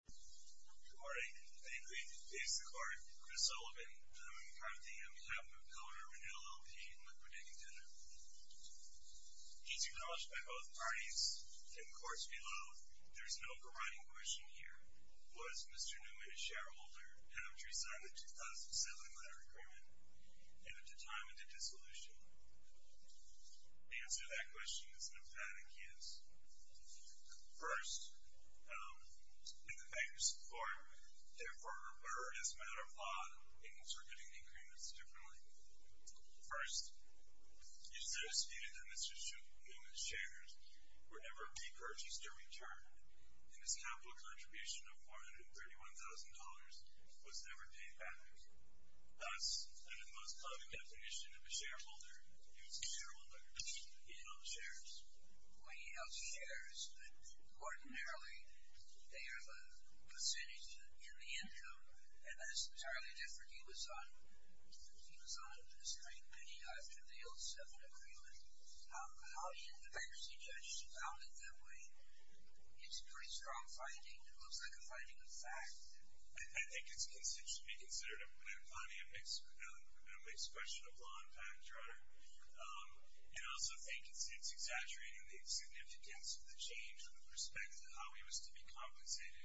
Good morning. I agree with the basic part. I'm Chris Sullivan. I'm part of the M. E. Hepburn co-owner of Renew LLP and Liquidating Tether. It's acknowledged by both parties. In the courts below, there's an overriding question here. Was Mr. Neuman a shareholder after he signed the 2007 letter agreement and at the time of the dissolution? The answer to that question is no, that I can't answer. First, in the bankers' support, therefore, or as a matter of law, the bankers were getting the agreements differently. First, it is so stated that Mr. Neuman's shares were never repurchased or returned, and his capital contribution of $431,000 was never paid back. Thus, under the most common definition of a shareholder, he was a shareholder. He held shares. Well, he held shares, but ordinarily, they are the percentage in the income, and that's entirely different. He was on a straight penny after the 2007 agreement. How do you, the bankruptcy judges, found it that way? It's a pretty strong finding. It looks like a finding of fact. I think it should be considered a mixed question of law and fact, Your Honor. And I also think it's exaggerating the significance of the change of the perspective of how he was to be compensated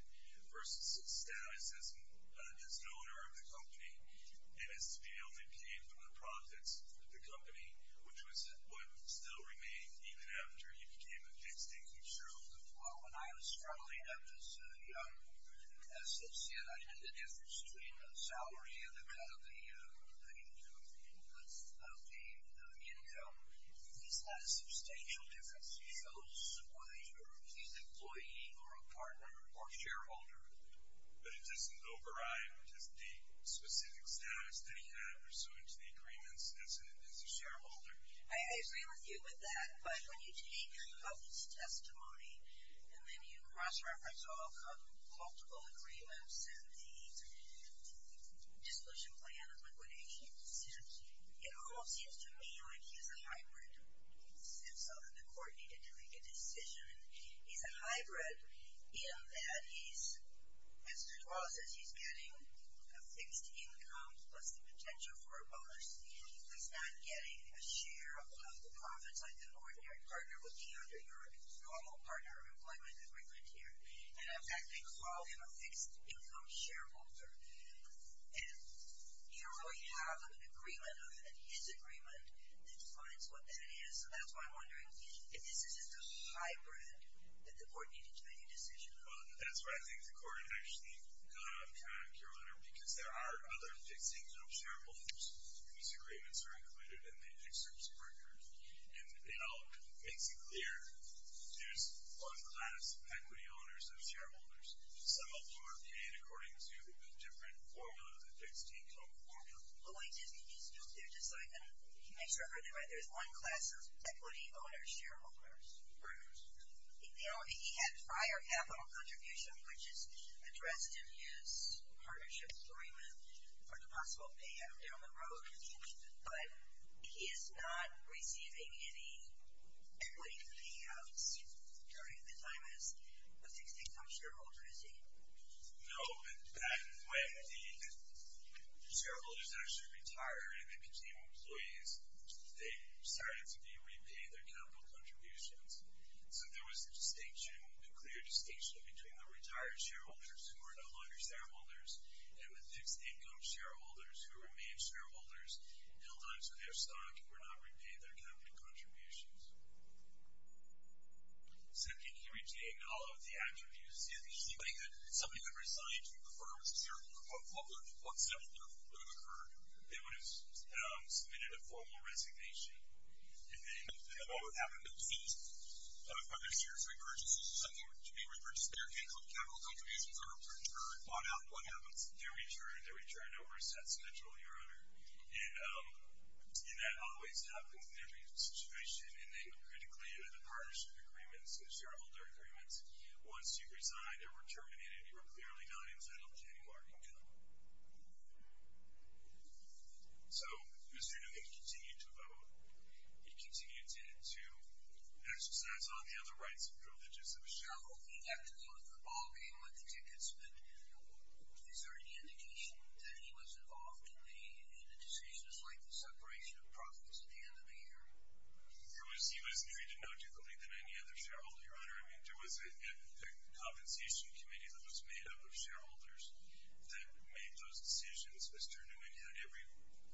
versus his status as an owner of the company and as to be able to pay for the profits of the company, which was what still remained even after he became a fixed income shareholder. Well, when I was struggling as a young associate, I think the inputs of the income, he's had a substantial difference. So, whether he's an employee or a partner or shareholder, but it doesn't override his deep, specific status that he had pursuant to the agreements as a shareholder. I agree with you with that, but when you take your cousin's testimony and then you cross-reference multiple agreements and the dissolution plan and liquidation decisions, it almost seems to me like he's a hybrid, since the court needed to make a decision. He's a hybrid in that he's, as the law says, he's getting a fixed income plus the potential for a bonus. He's not getting a share of the profits like an ordinary partner would be under your normal partner employment agreement here. And in fact, they call him a fixed income shareholder, and you don't really have an agreement, and his agreement, that defines what that is. So, that's why I'm wondering if this isn't a hybrid that the court needed to make a decision on. Well, that's why I think the court actually got on track, Your Honor, because there are other fixed income shareholders whose agreements are included in the insurance record, and it all makes it clear there's one class of shareholders. Some of whom are paid according to a different formula, the fixed income formula. Well, wait, just, can you just go through just so I can make sure I heard that right? There's one class of equity owner shareholders. Right. He had prior capital contribution, which is addressed in his partnership agreement for the possible payout down the road, but he is not a fixed income shareholder, is he? No, and when the shareholders actually retire and they became employees, they started to be repaid their capital contributions. So, there was a distinction, a clear distinction between the retired shareholders who are no longer shareholders, and the fixed income shareholders who remain shareholders held on to their stock and were not repaid their capital contributions. Second, he retained all of the attributes. If somebody had, somebody had resigned from the firm as a shareholder, what would have occurred? They would have submitted a formal resignation, and then what would happen next? Are there serious recurrences of something to be repurchased? Their capital contributions are returned. On out, what happens? They return, they return over a set schedule, Your Honor, and that always happens in every situation, and then critically under the partnership agreements and shareholder agreements, once you've resigned or were terminated, you were clearly not entitled to any more income. So, Mr. Newman continued to vote. He continued to exercise all the other rights and privileges of a shareholder. He left the ballgame with the tickets, but is there any indication that he was involved in the decisions like the separation of profits at the end of the year? He was treated no differently than any other shareholder, Your Honor. I mean, there was a compensation committee that was made up of shareholders that made those decisions. Mr. Newman had every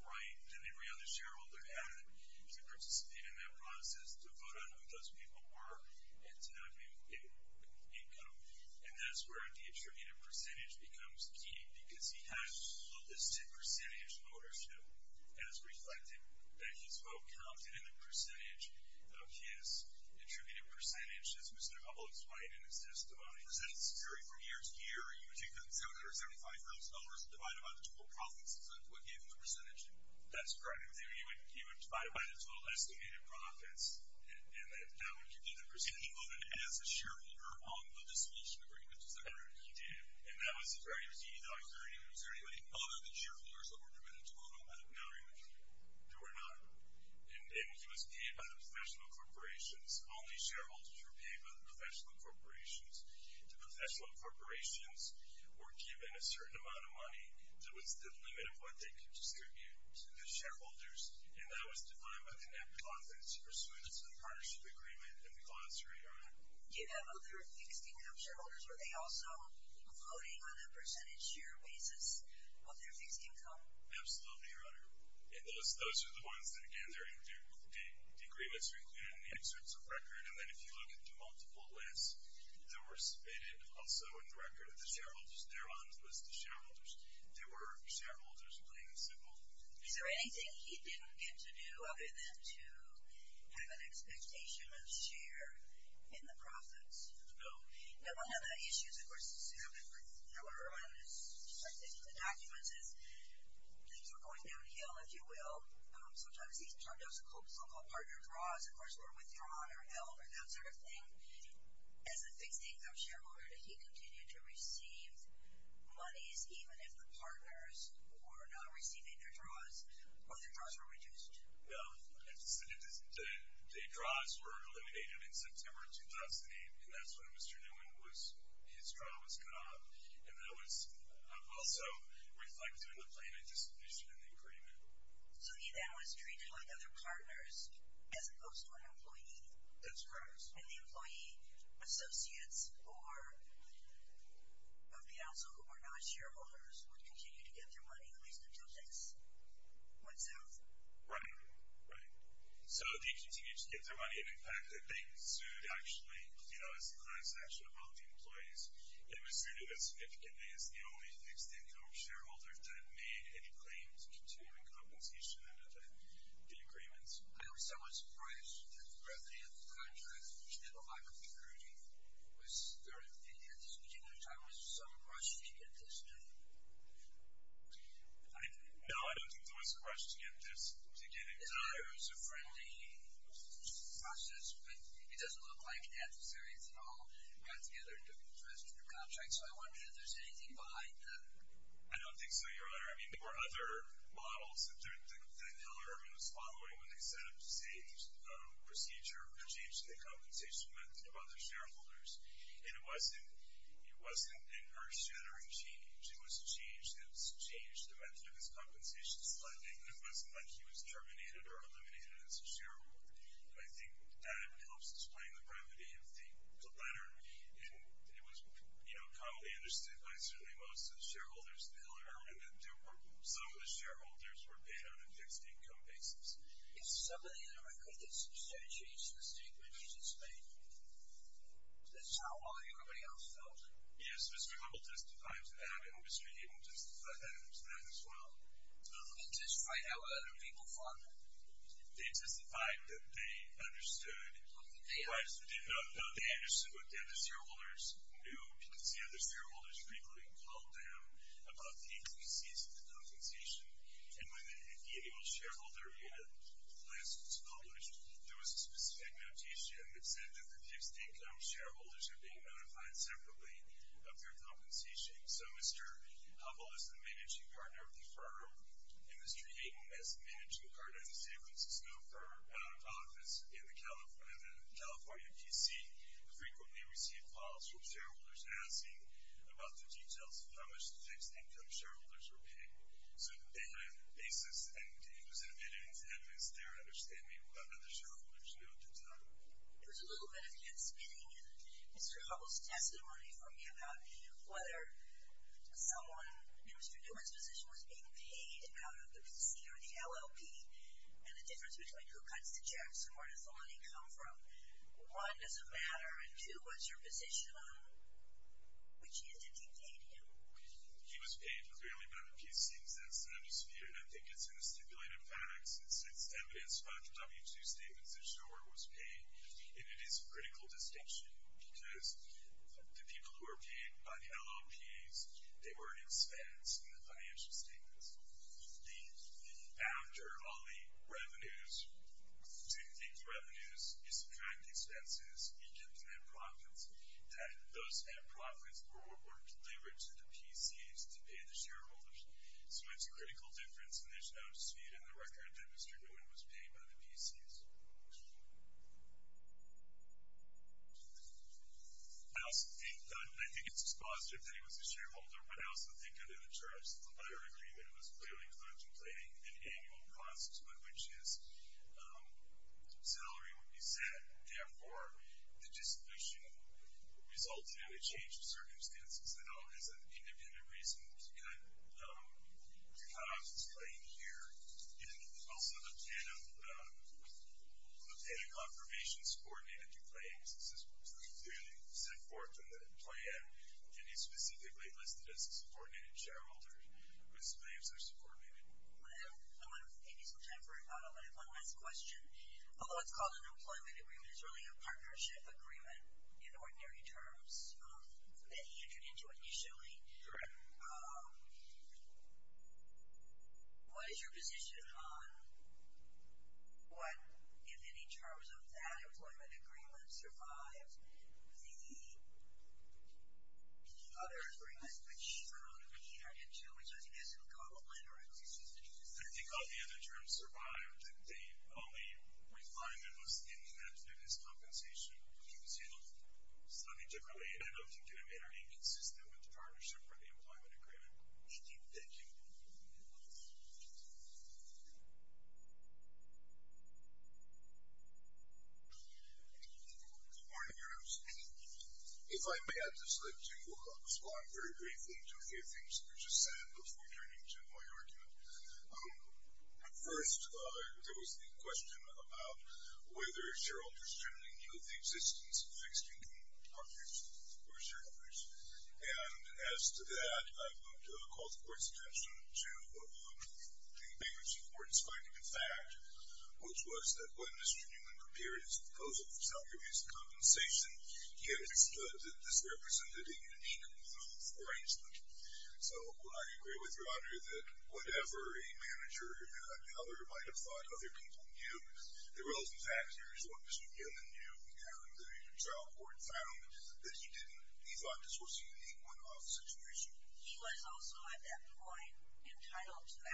right that every other shareholder had to participate in that process, to vote on who those people were, and to not be in a situation where he had to resign. So, Mr. Newman's estimated percentage becomes key, because he had a listed percentage in order to, as reflected, that his vote counted in the percentage of his attributed percentage, as Mr. Hubbell explained in his testimony. Was that a theory from year to year? You would take that $775,000 and divide it by the total profits, is that what gave him the percentage? That's correct. He would divide it by the total profits, and that was very easy. Was there anybody other than shareholders that were permitted to vote on that? No, Your Honor. There were not, and he was paid by the professional corporations. Only shareholders were paid by the professional corporations. The professional corporations were given a certain amount of money that was the limit of what they could distribute to the shareholders, and that was defined by the net profits pursuant to the partnership agreement in the glossary, Your Honor. Do you have other fixed income shareholders? Were they also voting on a percentage share basis of their fixed income? Absolutely, Your Honor. And those are the ones that, again, they're in agreements and inserts of record, and then if you look at the multiple lists that were submitted, also in the record of the shareholders, they're on the list of shareholders. There were shareholders, plain and simple. Is there anything he didn't get to do, then, to have an expectation of share in the profits? No. Now, one of the issues, of course, is similar, Your Honor, in the documents, is things were going downhill, if you will. Sometimes he's talked of local partner draws, of course, were withdrawn or held or that sort of thing. As a fixed income shareholder, did he continue to receive monies even if the partners were not receiving their draws, or their draws were reduced? No. The draws were eliminated in September of 2008, and that's when Mr. Newman was, his draw was cut off, and that was also reflected in the plaintiff's position in the agreement. So he then was treated like other partners as opposed to an employee? That's correct. And the employee associates or of the outsell or non-shareholders would continue to get their money, at least until things went south? Right, right. So they continued to get their money, and in fact, they sued, actually, you know, as a class action of both the employees, and it was sued as significantly as the only fixed income shareholder that made any claims to continuing compensation under the agreements. I was somewhat surprised that the revenue of the contract, which did a lot of recruiting, was there, at this particular time, was there some pressure to get this done? No, I don't think there was a pressure to get this, to get it done. It was a friendly process, but it doesn't look like adversaries at all got together and took interest in the contract, so I wonder if there's anything behind that. I don't think so, Your Honor. I mean, there were other models that Hillerman was following when they set up the same procedure or changed the compensation method of other shareholders, and it wasn't, it wasn't an earth-shattering change. It was a change that's changed the method of his compensation spending. It wasn't like he was terminated or eliminated as a shareholder. I think that helps explain the brevity of the letter, and it was, you know, commonly understood by certainly most of the shareholders at Hillerman that there were, some of the shareholders were paid on a fixed income basis. If some of the other recruiters substantiated the statement he just made, that's how well everybody else felt? Yes, Mr. Hillerman testified to that, and Mr. Abel testified to that as well. Did they testify to how other people thought? They testified that they understood, they understood what the other shareholders knew, because the other shareholders frequently called them about the intricacies of the compensation, and when the annual shareholder unit list was published, there was a specific notation that said that the fixed income shareholders are being notified separately of their compensation. So, Mr. Abel is the managing partner of the firm, and Mr. Hayden is the managing partner of the San Francisco office in the California PC, frequently received calls from shareholders asking about the details of how much the fixed income shareholders were paid. So, they had a basis, and it was admitted in advance their understanding of what other shareholders knew at the time. It was a little bit of head-spinning in Mr. Hubbell's testimony for me about whether someone in Mr. Newman's position was being paid out of the PC or the LLP, and the difference between who cuts the checks and where does the money come from. One, does it matter? And two, what's your position on it? Which is, did he pay him? He was paid, clearly, by the PC, and I think it's in the stipulated facts. It's evidence by the W-2 statements that the shareholder was paid, and it is a critical distinction, because the people who are paid by the LLPs, they were expensed in the financial statements. The factor on the revenues, do you think the revenues, you subtract the expenses, you get the net profits, that those net profits were delivered to the PCs to pay the shareholders? So, it's a critical difference, and there's no dispute in the record that Mr. Newman was paid by the PCs. I also think, I think it's positive that he was a shareholder, but I also think, under the terms of the letter agreement, it was clearly contemplating an annual cost, on which his salary would be set. Therefore, the dissolution resulted in a change of circumstances that all has an independent reason to cut the economist's claim here, and also the plan of the pay and confirmations coordinated to claims. This is clearly set forth in the plan, and it's specifically listed as a subordinated shareholder whose claims are subordinated. I want to give you some time for, I want to have one last question. Although it's called an employment agreement, it's really a partnership agreement in ordinary terms that he entered into initially. Correct. What is your position on what, if any, terms of that employment agreement survived the other agreement, which he entered into, which I think isn't complimentary? I think all the other terms survived. I think the only refinement was in that, that his compensation was handled slightly differently, and I don't think it made or inconsistent with the partnership or the employment agreement. Thank you. Good morning, everyone. If I may, I'd just like to respond very briefly to a few things that were just said before turning to my argument. First, there was the question about whether shareholders generally knew the existence of fixed income partners or shareholders, and as to that, I would call the court's attention to the biggest importance finding, in fact, which was that when Mr. Newman prepared his proposal for salary abuse compensation, he understood that this represented a unique move, for instance. So, I agree with you, Roger, that whatever a manager, a teller, might have thought other people knew, the relevant factors, what Mr. Newman knew, and the trial court found that he didn't. He thought this was a unique one-off situation. He was also, at that point, entitled to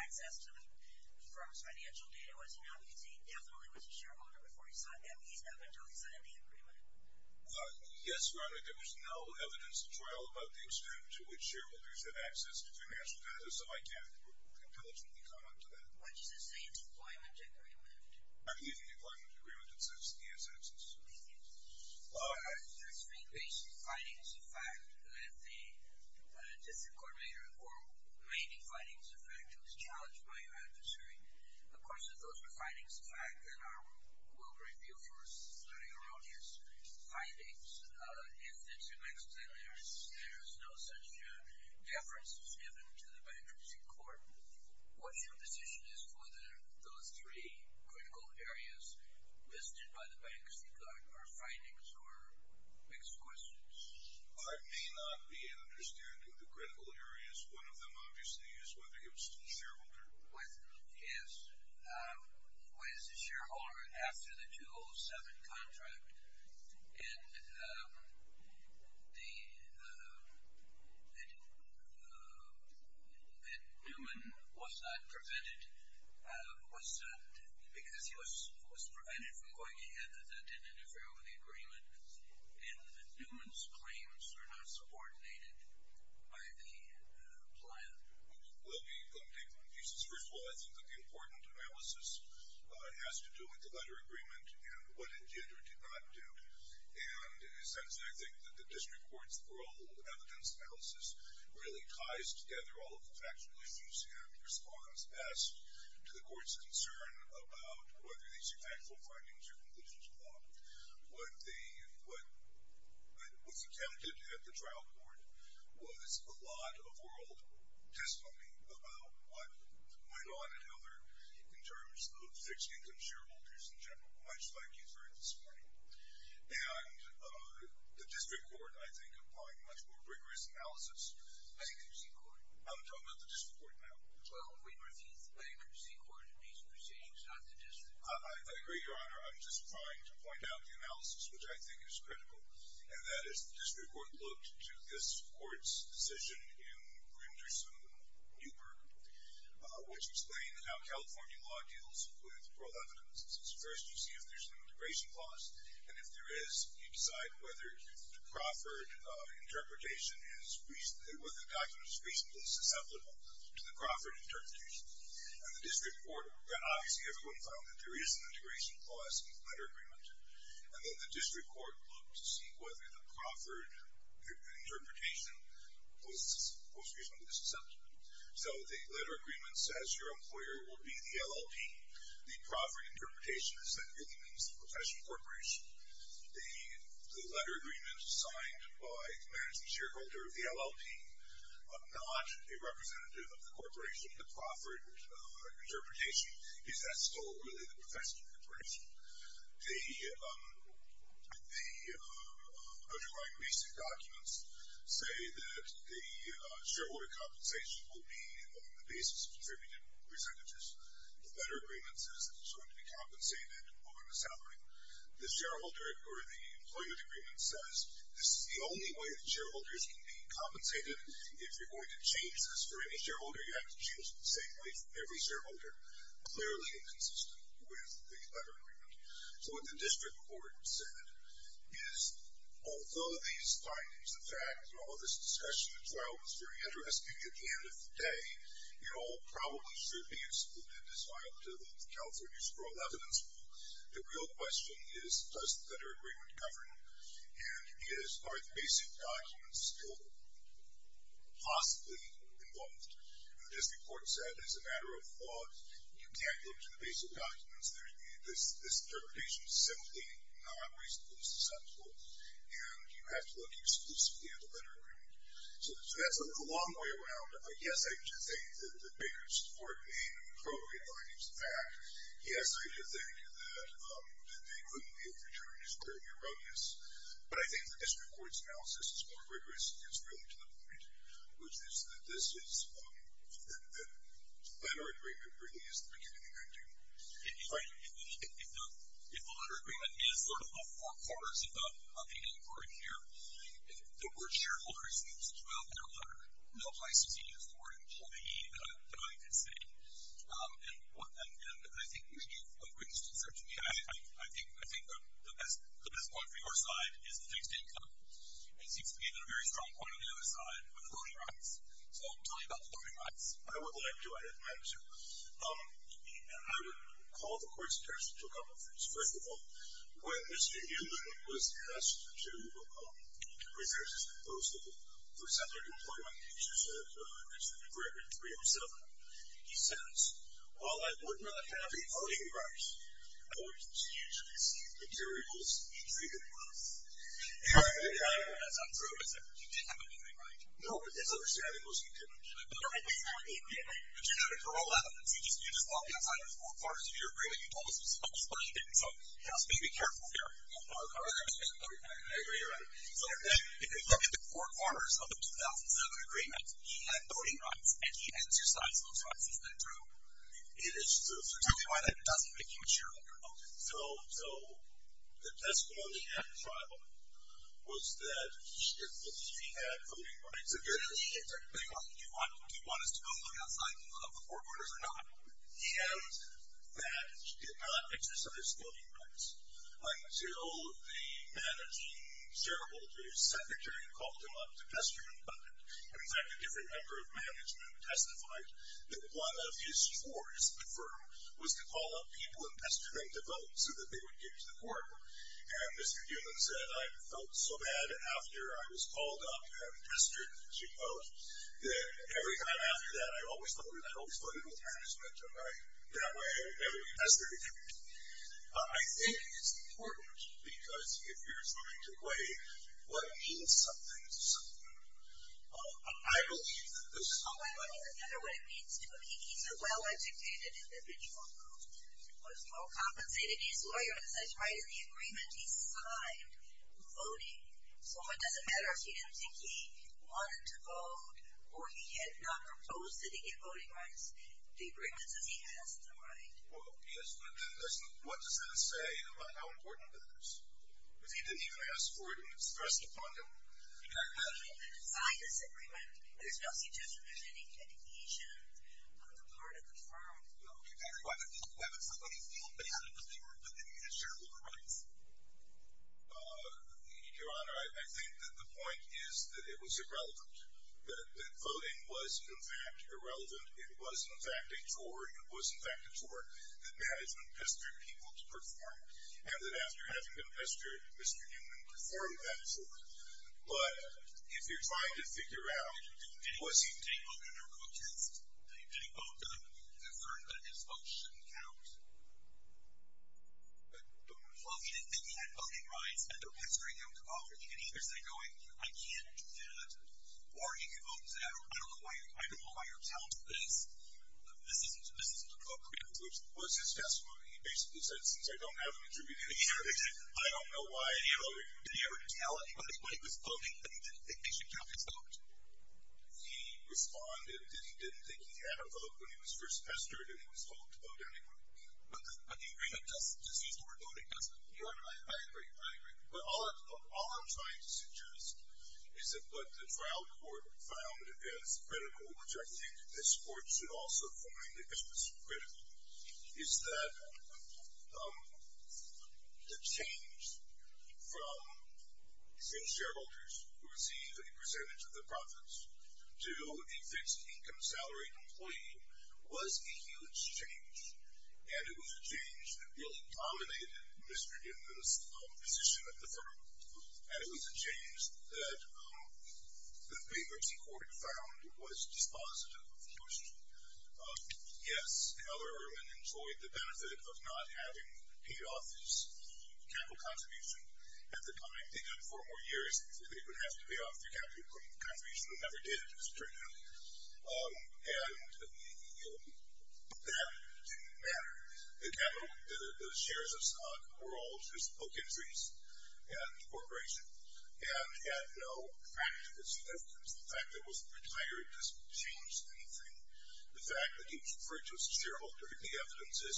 access to the firm's financial data. Was he not? Because he definitely was a shareholder before he signed that piece up until he signed the agreement. Yes, Your Honor, there was no evidence in the trial about the extent to which shareholders had access to financial data, so I can't intelligently comment to that. Why do you say it's an employment agreement? I believe it's an employment agreement that says he has access to it. Thank you. That's being based on findings of fact, that the District Court made findings of fact. It was challenged by your adversary. Of course, if those were findings of fact, then I will review for erroneous findings. If there's no such deference given to the bankruptcy court, what's your position as to whether those three critical areas listed by the bankruptcy court are findings or mixed questions? I may not be understanding the critical areas. One of them, contract. And that Newman was not prevented, because he was prevented from going ahead, that didn't interfere with the agreement. And that Newman's claims are not subordinated by the plan. Well, let me take one piece. First of all, I think that the important analysis has to do with the letter agreement and what it did or did not do. And in a sense, I think that the District Court's oral evidence analysis really ties together all of the factual issues and response passed to the court's concern about whether these are factual findings or conclusions of law. What was attempted at the trial court was a lot of oral testimony about what went on at fixed income shareholders in general, much like you've heard this morning. And the District Court, I think, applied much more rigorous analysis. I'm talking about the District Court now. I agree, Your Honor. I'm just trying to point out the analysis, which I think is critical. And that is the District Court looked to this decision in Brinderson-Newburgh, which explained how California law deals with oral evidence. First, you see if there's an integration clause. And if there is, you decide whether Crawford interpretation is reasonably, whether the document is reasonably susceptible to the Crawford interpretation. And the District Court, then obviously everyone found that there is an integration clause in the letter agreement. And then the District Court looked to see whether the Crawford interpretation was reasonably susceptible. So the letter agreement says your employer will be the LLP. The Crawford interpretation is that really means the professional corporation. The letter agreement signed by the management shareholder of the LLP, not a representative of the corporation, the Crawford interpretation, is that still really the professional corporation. The underlying basic documents say that the shareholder compensation will be on the basis of contributed percentages. The letter agreement says that it's going to be compensated over the salary. The shareholder or the employment agreement says this is the only way that shareholders can be compensated. If you're going to change this for any shareholder, you have to choose the same way for every shareholder, clearly inconsistent with the letter agreement. So what the District Court said is, although these findings, the facts, and all of this discussion, as well, was very interesting at the end of the day, it all probably should be excluded as part of the California's Coral Evidence Rule. The real question is, does the letter agreement govern? And are the basic documents still possibly involved? The District Court said, as a matter of law, you can't look to the basic documents. This interpretation is simply not reasonably sensible, and you have to look exclusively at the letter agreement. So that's a long way around. Yes, I do think that Baker's court made appropriate findings. In fact, yes, I do think that they couldn't be of greater concern. It's very erroneous. But I think the District Court's analysis is more rigorous, and it gets really to the point, which is that this is, that the letter agreement really is the beginning of everything. If the letter agreement is sort of the forequarters of the inquiry here, the word shareholder is used throughout the letter. No place is used for all the denying consistency. And I think you gave a very good answer to me. I think the best point for your side is the fixed income. It seems to me that a very strong point on the other side with voting rights. So I'll tell you about the voting rights. I would like to, I have to. I would call the court's attention to a couple things. First of all, when Mr. Newman was asked to reserve his proposal for separate employment, as you said, in agreement 307, he said, well, I would not have any voting rights. I would continue to receive materials in three different months. That's not true, is it? You didn't have anything, right? No, but as I understand it, it was in two months. No, it was not in two months. But you had it for all evidence. You just walked outside of the forequarters of your agreement. You told us it was supposed to be. So he asked me to be careful here. I agree, you're right. So if you look at the four corners of the 2007 agreement, he had voting rights and he exercised those rights. Is that true? It is true. Tell me why that doesn't make you sure that you're voting. So the testimony at the trial was that he had voting rights. So if you're in a league and you want us to go look outside of the four corners or not, he noted that he did not exercise voting rights until the managing shareholders secretary called him up to testify. But in fact, a different member of management testified that one of his chores at the firm was to call up people and pester them to vote so that they would get to the court. And Mr. Newman said, I felt so bad after I was called up and pestered, she goes. Every time after that, I always voted. I always voted with management. Am I right that way? That's very true. I think it's important because if you're trying to weigh what means something to someone, I believe that this is not what it means to me. He's a well-educated individual. He was well compensated. He's a lawyer, as I tried in the agreement, he signed voting. So it doesn't matter if he didn't think he wanted to vote or he had not proposed that he get voting rights. The agreement says he has the right. Well, yes, but what does that say about how important that is? Because he didn't even ask for it and it's stressed upon him. Well, he signed this agreement. There's no suggestion there's any adhesion on the part of the firm. Well, you can't go out and let somebody feel bad because they weren't living in a shareholder rights. Your Honor, I think that the point is that it was irrelevant, that voting was, in fact, irrelevant. It was, in fact, a chore. It was, in fact, a chore that management pestered people to perform and that after having been pestered, Mr. Newman performed that chore. But if you're trying to figure out who was he... Did he vote in a protest? Did he vote to assert that his vote shouldn't count? Well, he didn't think he had voting rights and they're pestering him to offer the adhesion. Is he going, I can't do that or you can vote that or I don't know why you're telling me this. This isn't appropriate. It was his testimony. He basically said, since I don't have an attributability, I don't know why I can't vote. Did he ever tell anybody when he was voting that he didn't think they should count his vote? He responded that he didn't think he had a vote when he was first pestered and he was told to vote. But the agreement doesn't... Does he support voting? Doesn't... I agree. I agree. But all I'm trying to suggest is that what the trial court found as critical, which I think this court should also find as critical, is that the change from shareholders who receive a percentage of the profits to a fixed income salary employee was a huge change. And it was a change that really dominated Mr. Giffen's position at the firm. And it was a change that the bankruptcy court found was dispositive of the industry. Yes, Heller-Ehrman enjoyed the benefit of not having paid off his capital contribution. At the time, they did it for four more years. They didn't even have to pay off their capital contribution. It never did. It just turned out. And that didn't matter. The capital, the shares of Scott, were all just book entries at the corporation and had no practical significance. The fact that he was retired doesn't change anything. The fact that he was referred to as a shareholder, the evidence is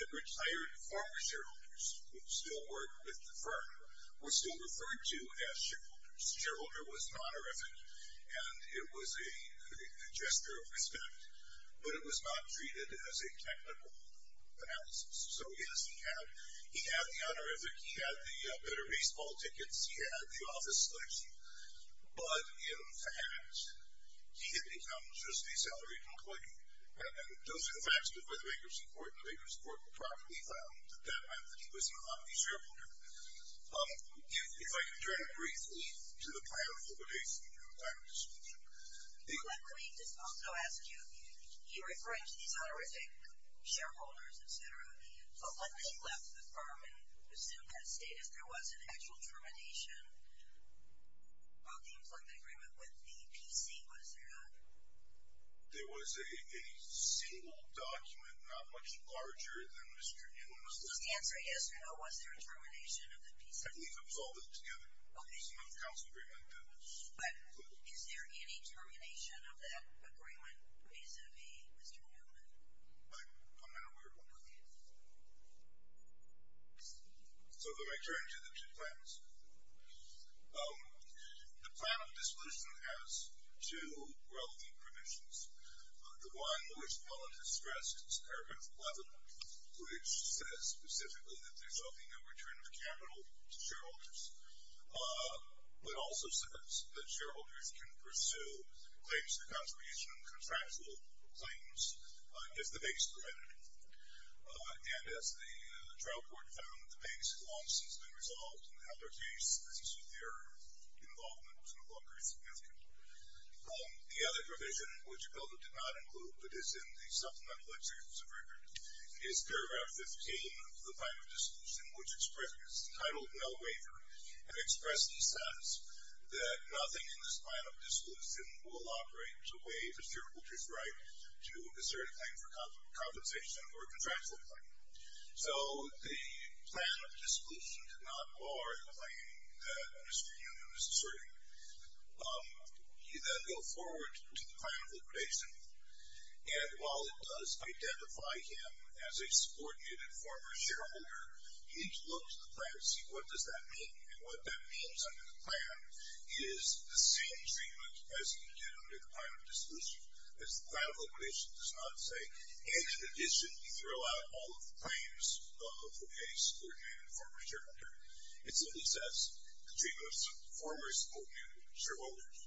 that retired former shareholders who still work with the firm were still referred to as shareholders. The shareholder was an honorific, and it was a gesture of respect. But it was not treated as a technical analysis. So yes, he had the honorific. He had the better baseball tickets. He had the office selection. But in fact, he had become just a salaried employee. And those are the facts before the bankruptcy court. And the bankruptcy court promptly found that that meant that he was not a shareholder. If I could turn it briefly to the prior affiliation to the time of disclosure. The employee also asked you, he referred to these honorific shareholders, et cetera. But when he left the firm and assumed that status, there was an actual termination of the employment agreement with the PC. Was there not? There was a single document, not much larger than Mr. Newman's. The answer is no. Was there a termination of the PC? I believe it was all put together. Okay. It's not the council agreement that was included. But is there any termination of that agreement vis-a-vis Mr. Newman? I'm not aware of one. Okay. So let me turn to the two plans. The plan of disclosure has two relevant provisions. The one, which Alan has stressed, is paragraph 11, which says specifically that there's nothing in return of capital to shareholders. But also says that shareholders can pursue claims to the confirmation of contractual claims if the base permitted it. And as the trial court found, the base has long since been resolved. And the other case, this is with their involvement was no longer significant. The other provision, which the bill did not include, but is in the supplemental executions of record, is paragraph 15 of the plan of disclosure, which expresses the title of no waiver, and expresses the status that nothing in this plan of disclosure will operate to waive a fearful truth right to assert a claim for compensation or a contractual claim. So the plan of disclosure did not bar a claim that Mr. Newman asserted. You then go forward to the plan of liquidation, and while it does identify him as a subordinate and former shareholder, you need to look at the plan and see what does that mean. And what that means under the plan is the same treatment as you did under the plan of disclosure, as the plan of liquidation does not say. And in addition, you throw out all of the claims of a subordinate and former shareholder. It simply says, the treatment of former subordinate shareholders,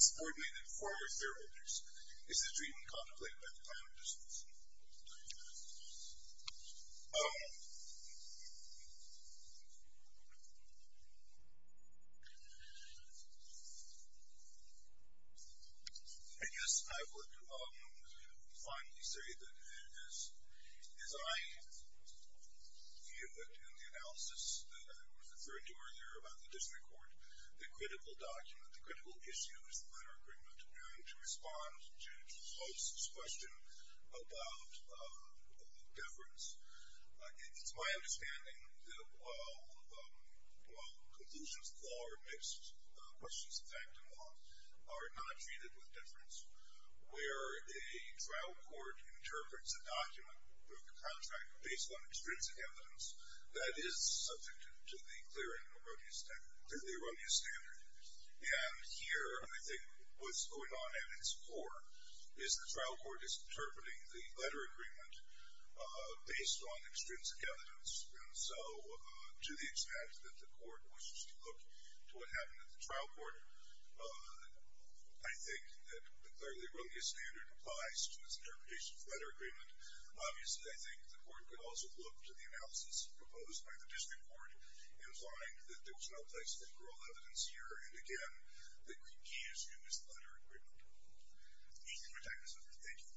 subordinate and former shareholders, is the treatment contemplated by the plan of disclosure. And yes, I would finally say that as I view it in the analysis of this bill, that I was referring to earlier about the district court, the critical document, the critical issue is the letter agreement. And to respond to Judge Holst's question about deference, it's my understanding that while conclusions of law are mixed, questions of fact and law are not treated with deference. Where a trial court interprets a document with a contract based on extrinsic evidence that is subject to the clear and erroneous standard. And here, I think what's going on at its core is the trial court is interpreting the letter agreement based on extrinsic evidence. And so to the extent that the court wishes to look to what happened at the trial court, I think that the clearly erroneous standard applies to its interpretation of the letter agreement. Obviously, I think the court could also look to the analysis proposed by the district court, implying that there was no place for literal evidence here. And again, the key issue is the letter agreement. Thank you for your time, Mr. Speaker. Thank you.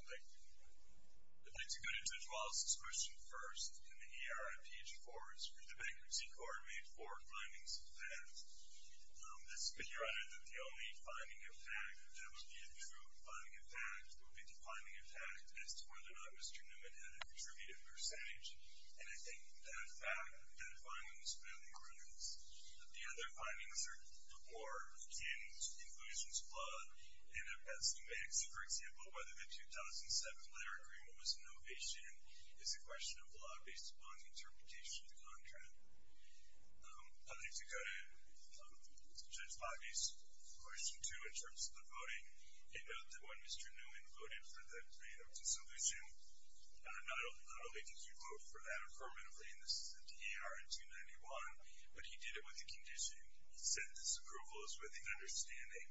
I'd like to go to Judge Holst's question first. In the ERI page four, it's where the bankruptcy court made four findings of fact. That would be a true finding of fact. It would be the finding of fact as to whether or not Mr. Newman had a contributive percentage. And I think that fact, that finding, was fairly erroneous. The other findings are more in conclusion's law and as a mix. For example, whether the 2007 letter agreement was an ovation is a question of law based upon the interpretation of the contract. I'd like to go to Judge Bobby's question two in terms of the voting. A note that when Mr. Newman voted for the plan of dissolution, not only did he vote for that affirmatively, and this is the DER in 291, but he did it with a condition. He said, this approval is with the understanding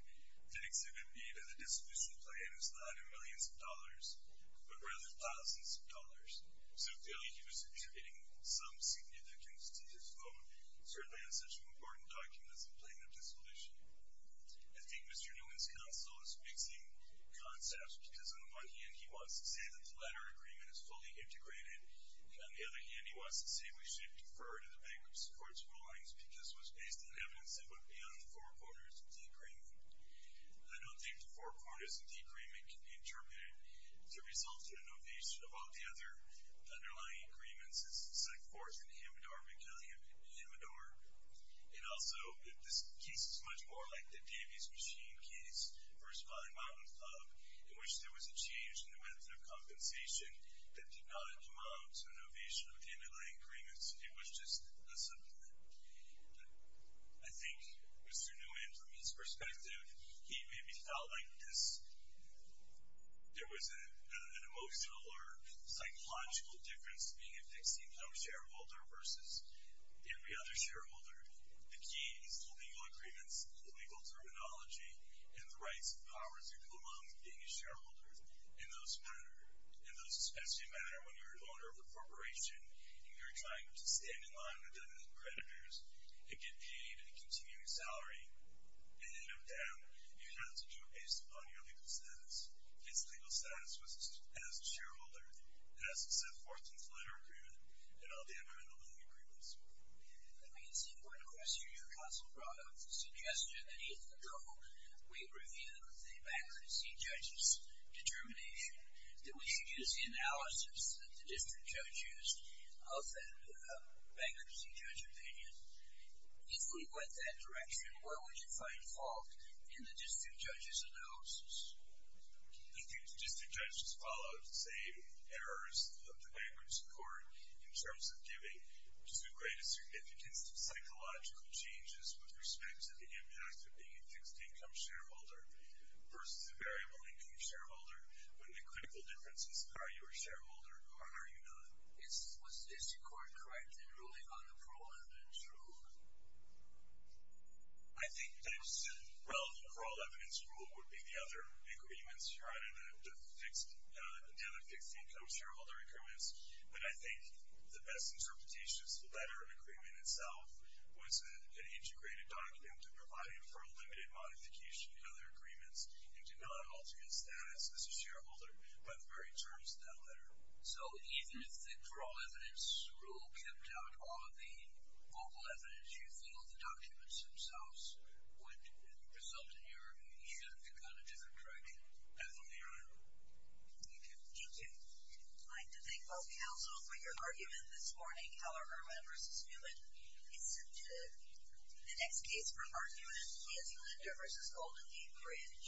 that exhibit B to the dissolution plan is not in millions of dollars, but rather thousands of dollars. So clearly he was attributing some significance to his vote, certainly on such an important document as the plan of dissolution. I think Mr. Newman's counsel is mixing concepts because on the one hand, he wants to say that the letter agreement is fully integrated, and on the other hand, he wants to say we should defer to the bankruptcy court's rulings because it was based on evidence that went beyond the four corners of the agreement. I don't think the four corners of the agreement can be interpreted to result in an ovation of all the other underlying agreements. This is the second, fourth, and the Hamidor, and also this case is much more like the Davies machine case, first of all, in Mountain Club, in which there was a change in the method of compensation that did not amount to an ovation of the underlying agreements. It was just a supplement. I think Mr. Newman, from his perspective, he maybe felt like there was an emotional or psychological difference being a fixed income shareholder versus every other shareholder. The key is the legal agreements, the legal terminology, and the rights and powers that go along with being a shareholder, and those matter. And those especially matter when you're an owner of a corporation and you're trying to stand in line with the creditors and get paid a continuing salary, and in and of them, you have to do it based upon your legal status. It's legal status as a shareholder, as it's a fourth and final agreement, and all the underlying agreements. Let me see one question your counsel brought up, the suggestion that if the code, we review the bankruptcy judge's determination, that we should use the analysis of the district judges of that bankruptcy judge opinion, if we went that direction, where would you find fault in the district judge's analysis? I think the district judge has followed the same errors of the bankruptcy court in terms of giving too great a significance to psychological changes with respect to the impact of being a fixed income shareholder versus a variable income shareholder, when the critical difference is are you a shareholder or are you not? Is the court correct in ruling on the parole evidence rule? I think the relevant parole evidence rule would be the other agreements, the other fixed income shareholder agreements, but I think the best interpretation is the letter agreement itself was an integrated document that provided for limited modification of other agreements and did not alter your status as a shareholder by the very terms of that letter. So even if the parole evidence rule kept out all of the vocal evidence, you think all the documents themselves would result in your shift to kind of different tracking? I think they are. Thank you. Thank you. I'd like to thank both counsel for your argument this morning. However, Irwin versus Newman is sent to the next case for argument. Nancy Linder versus Golden Gate Bridge.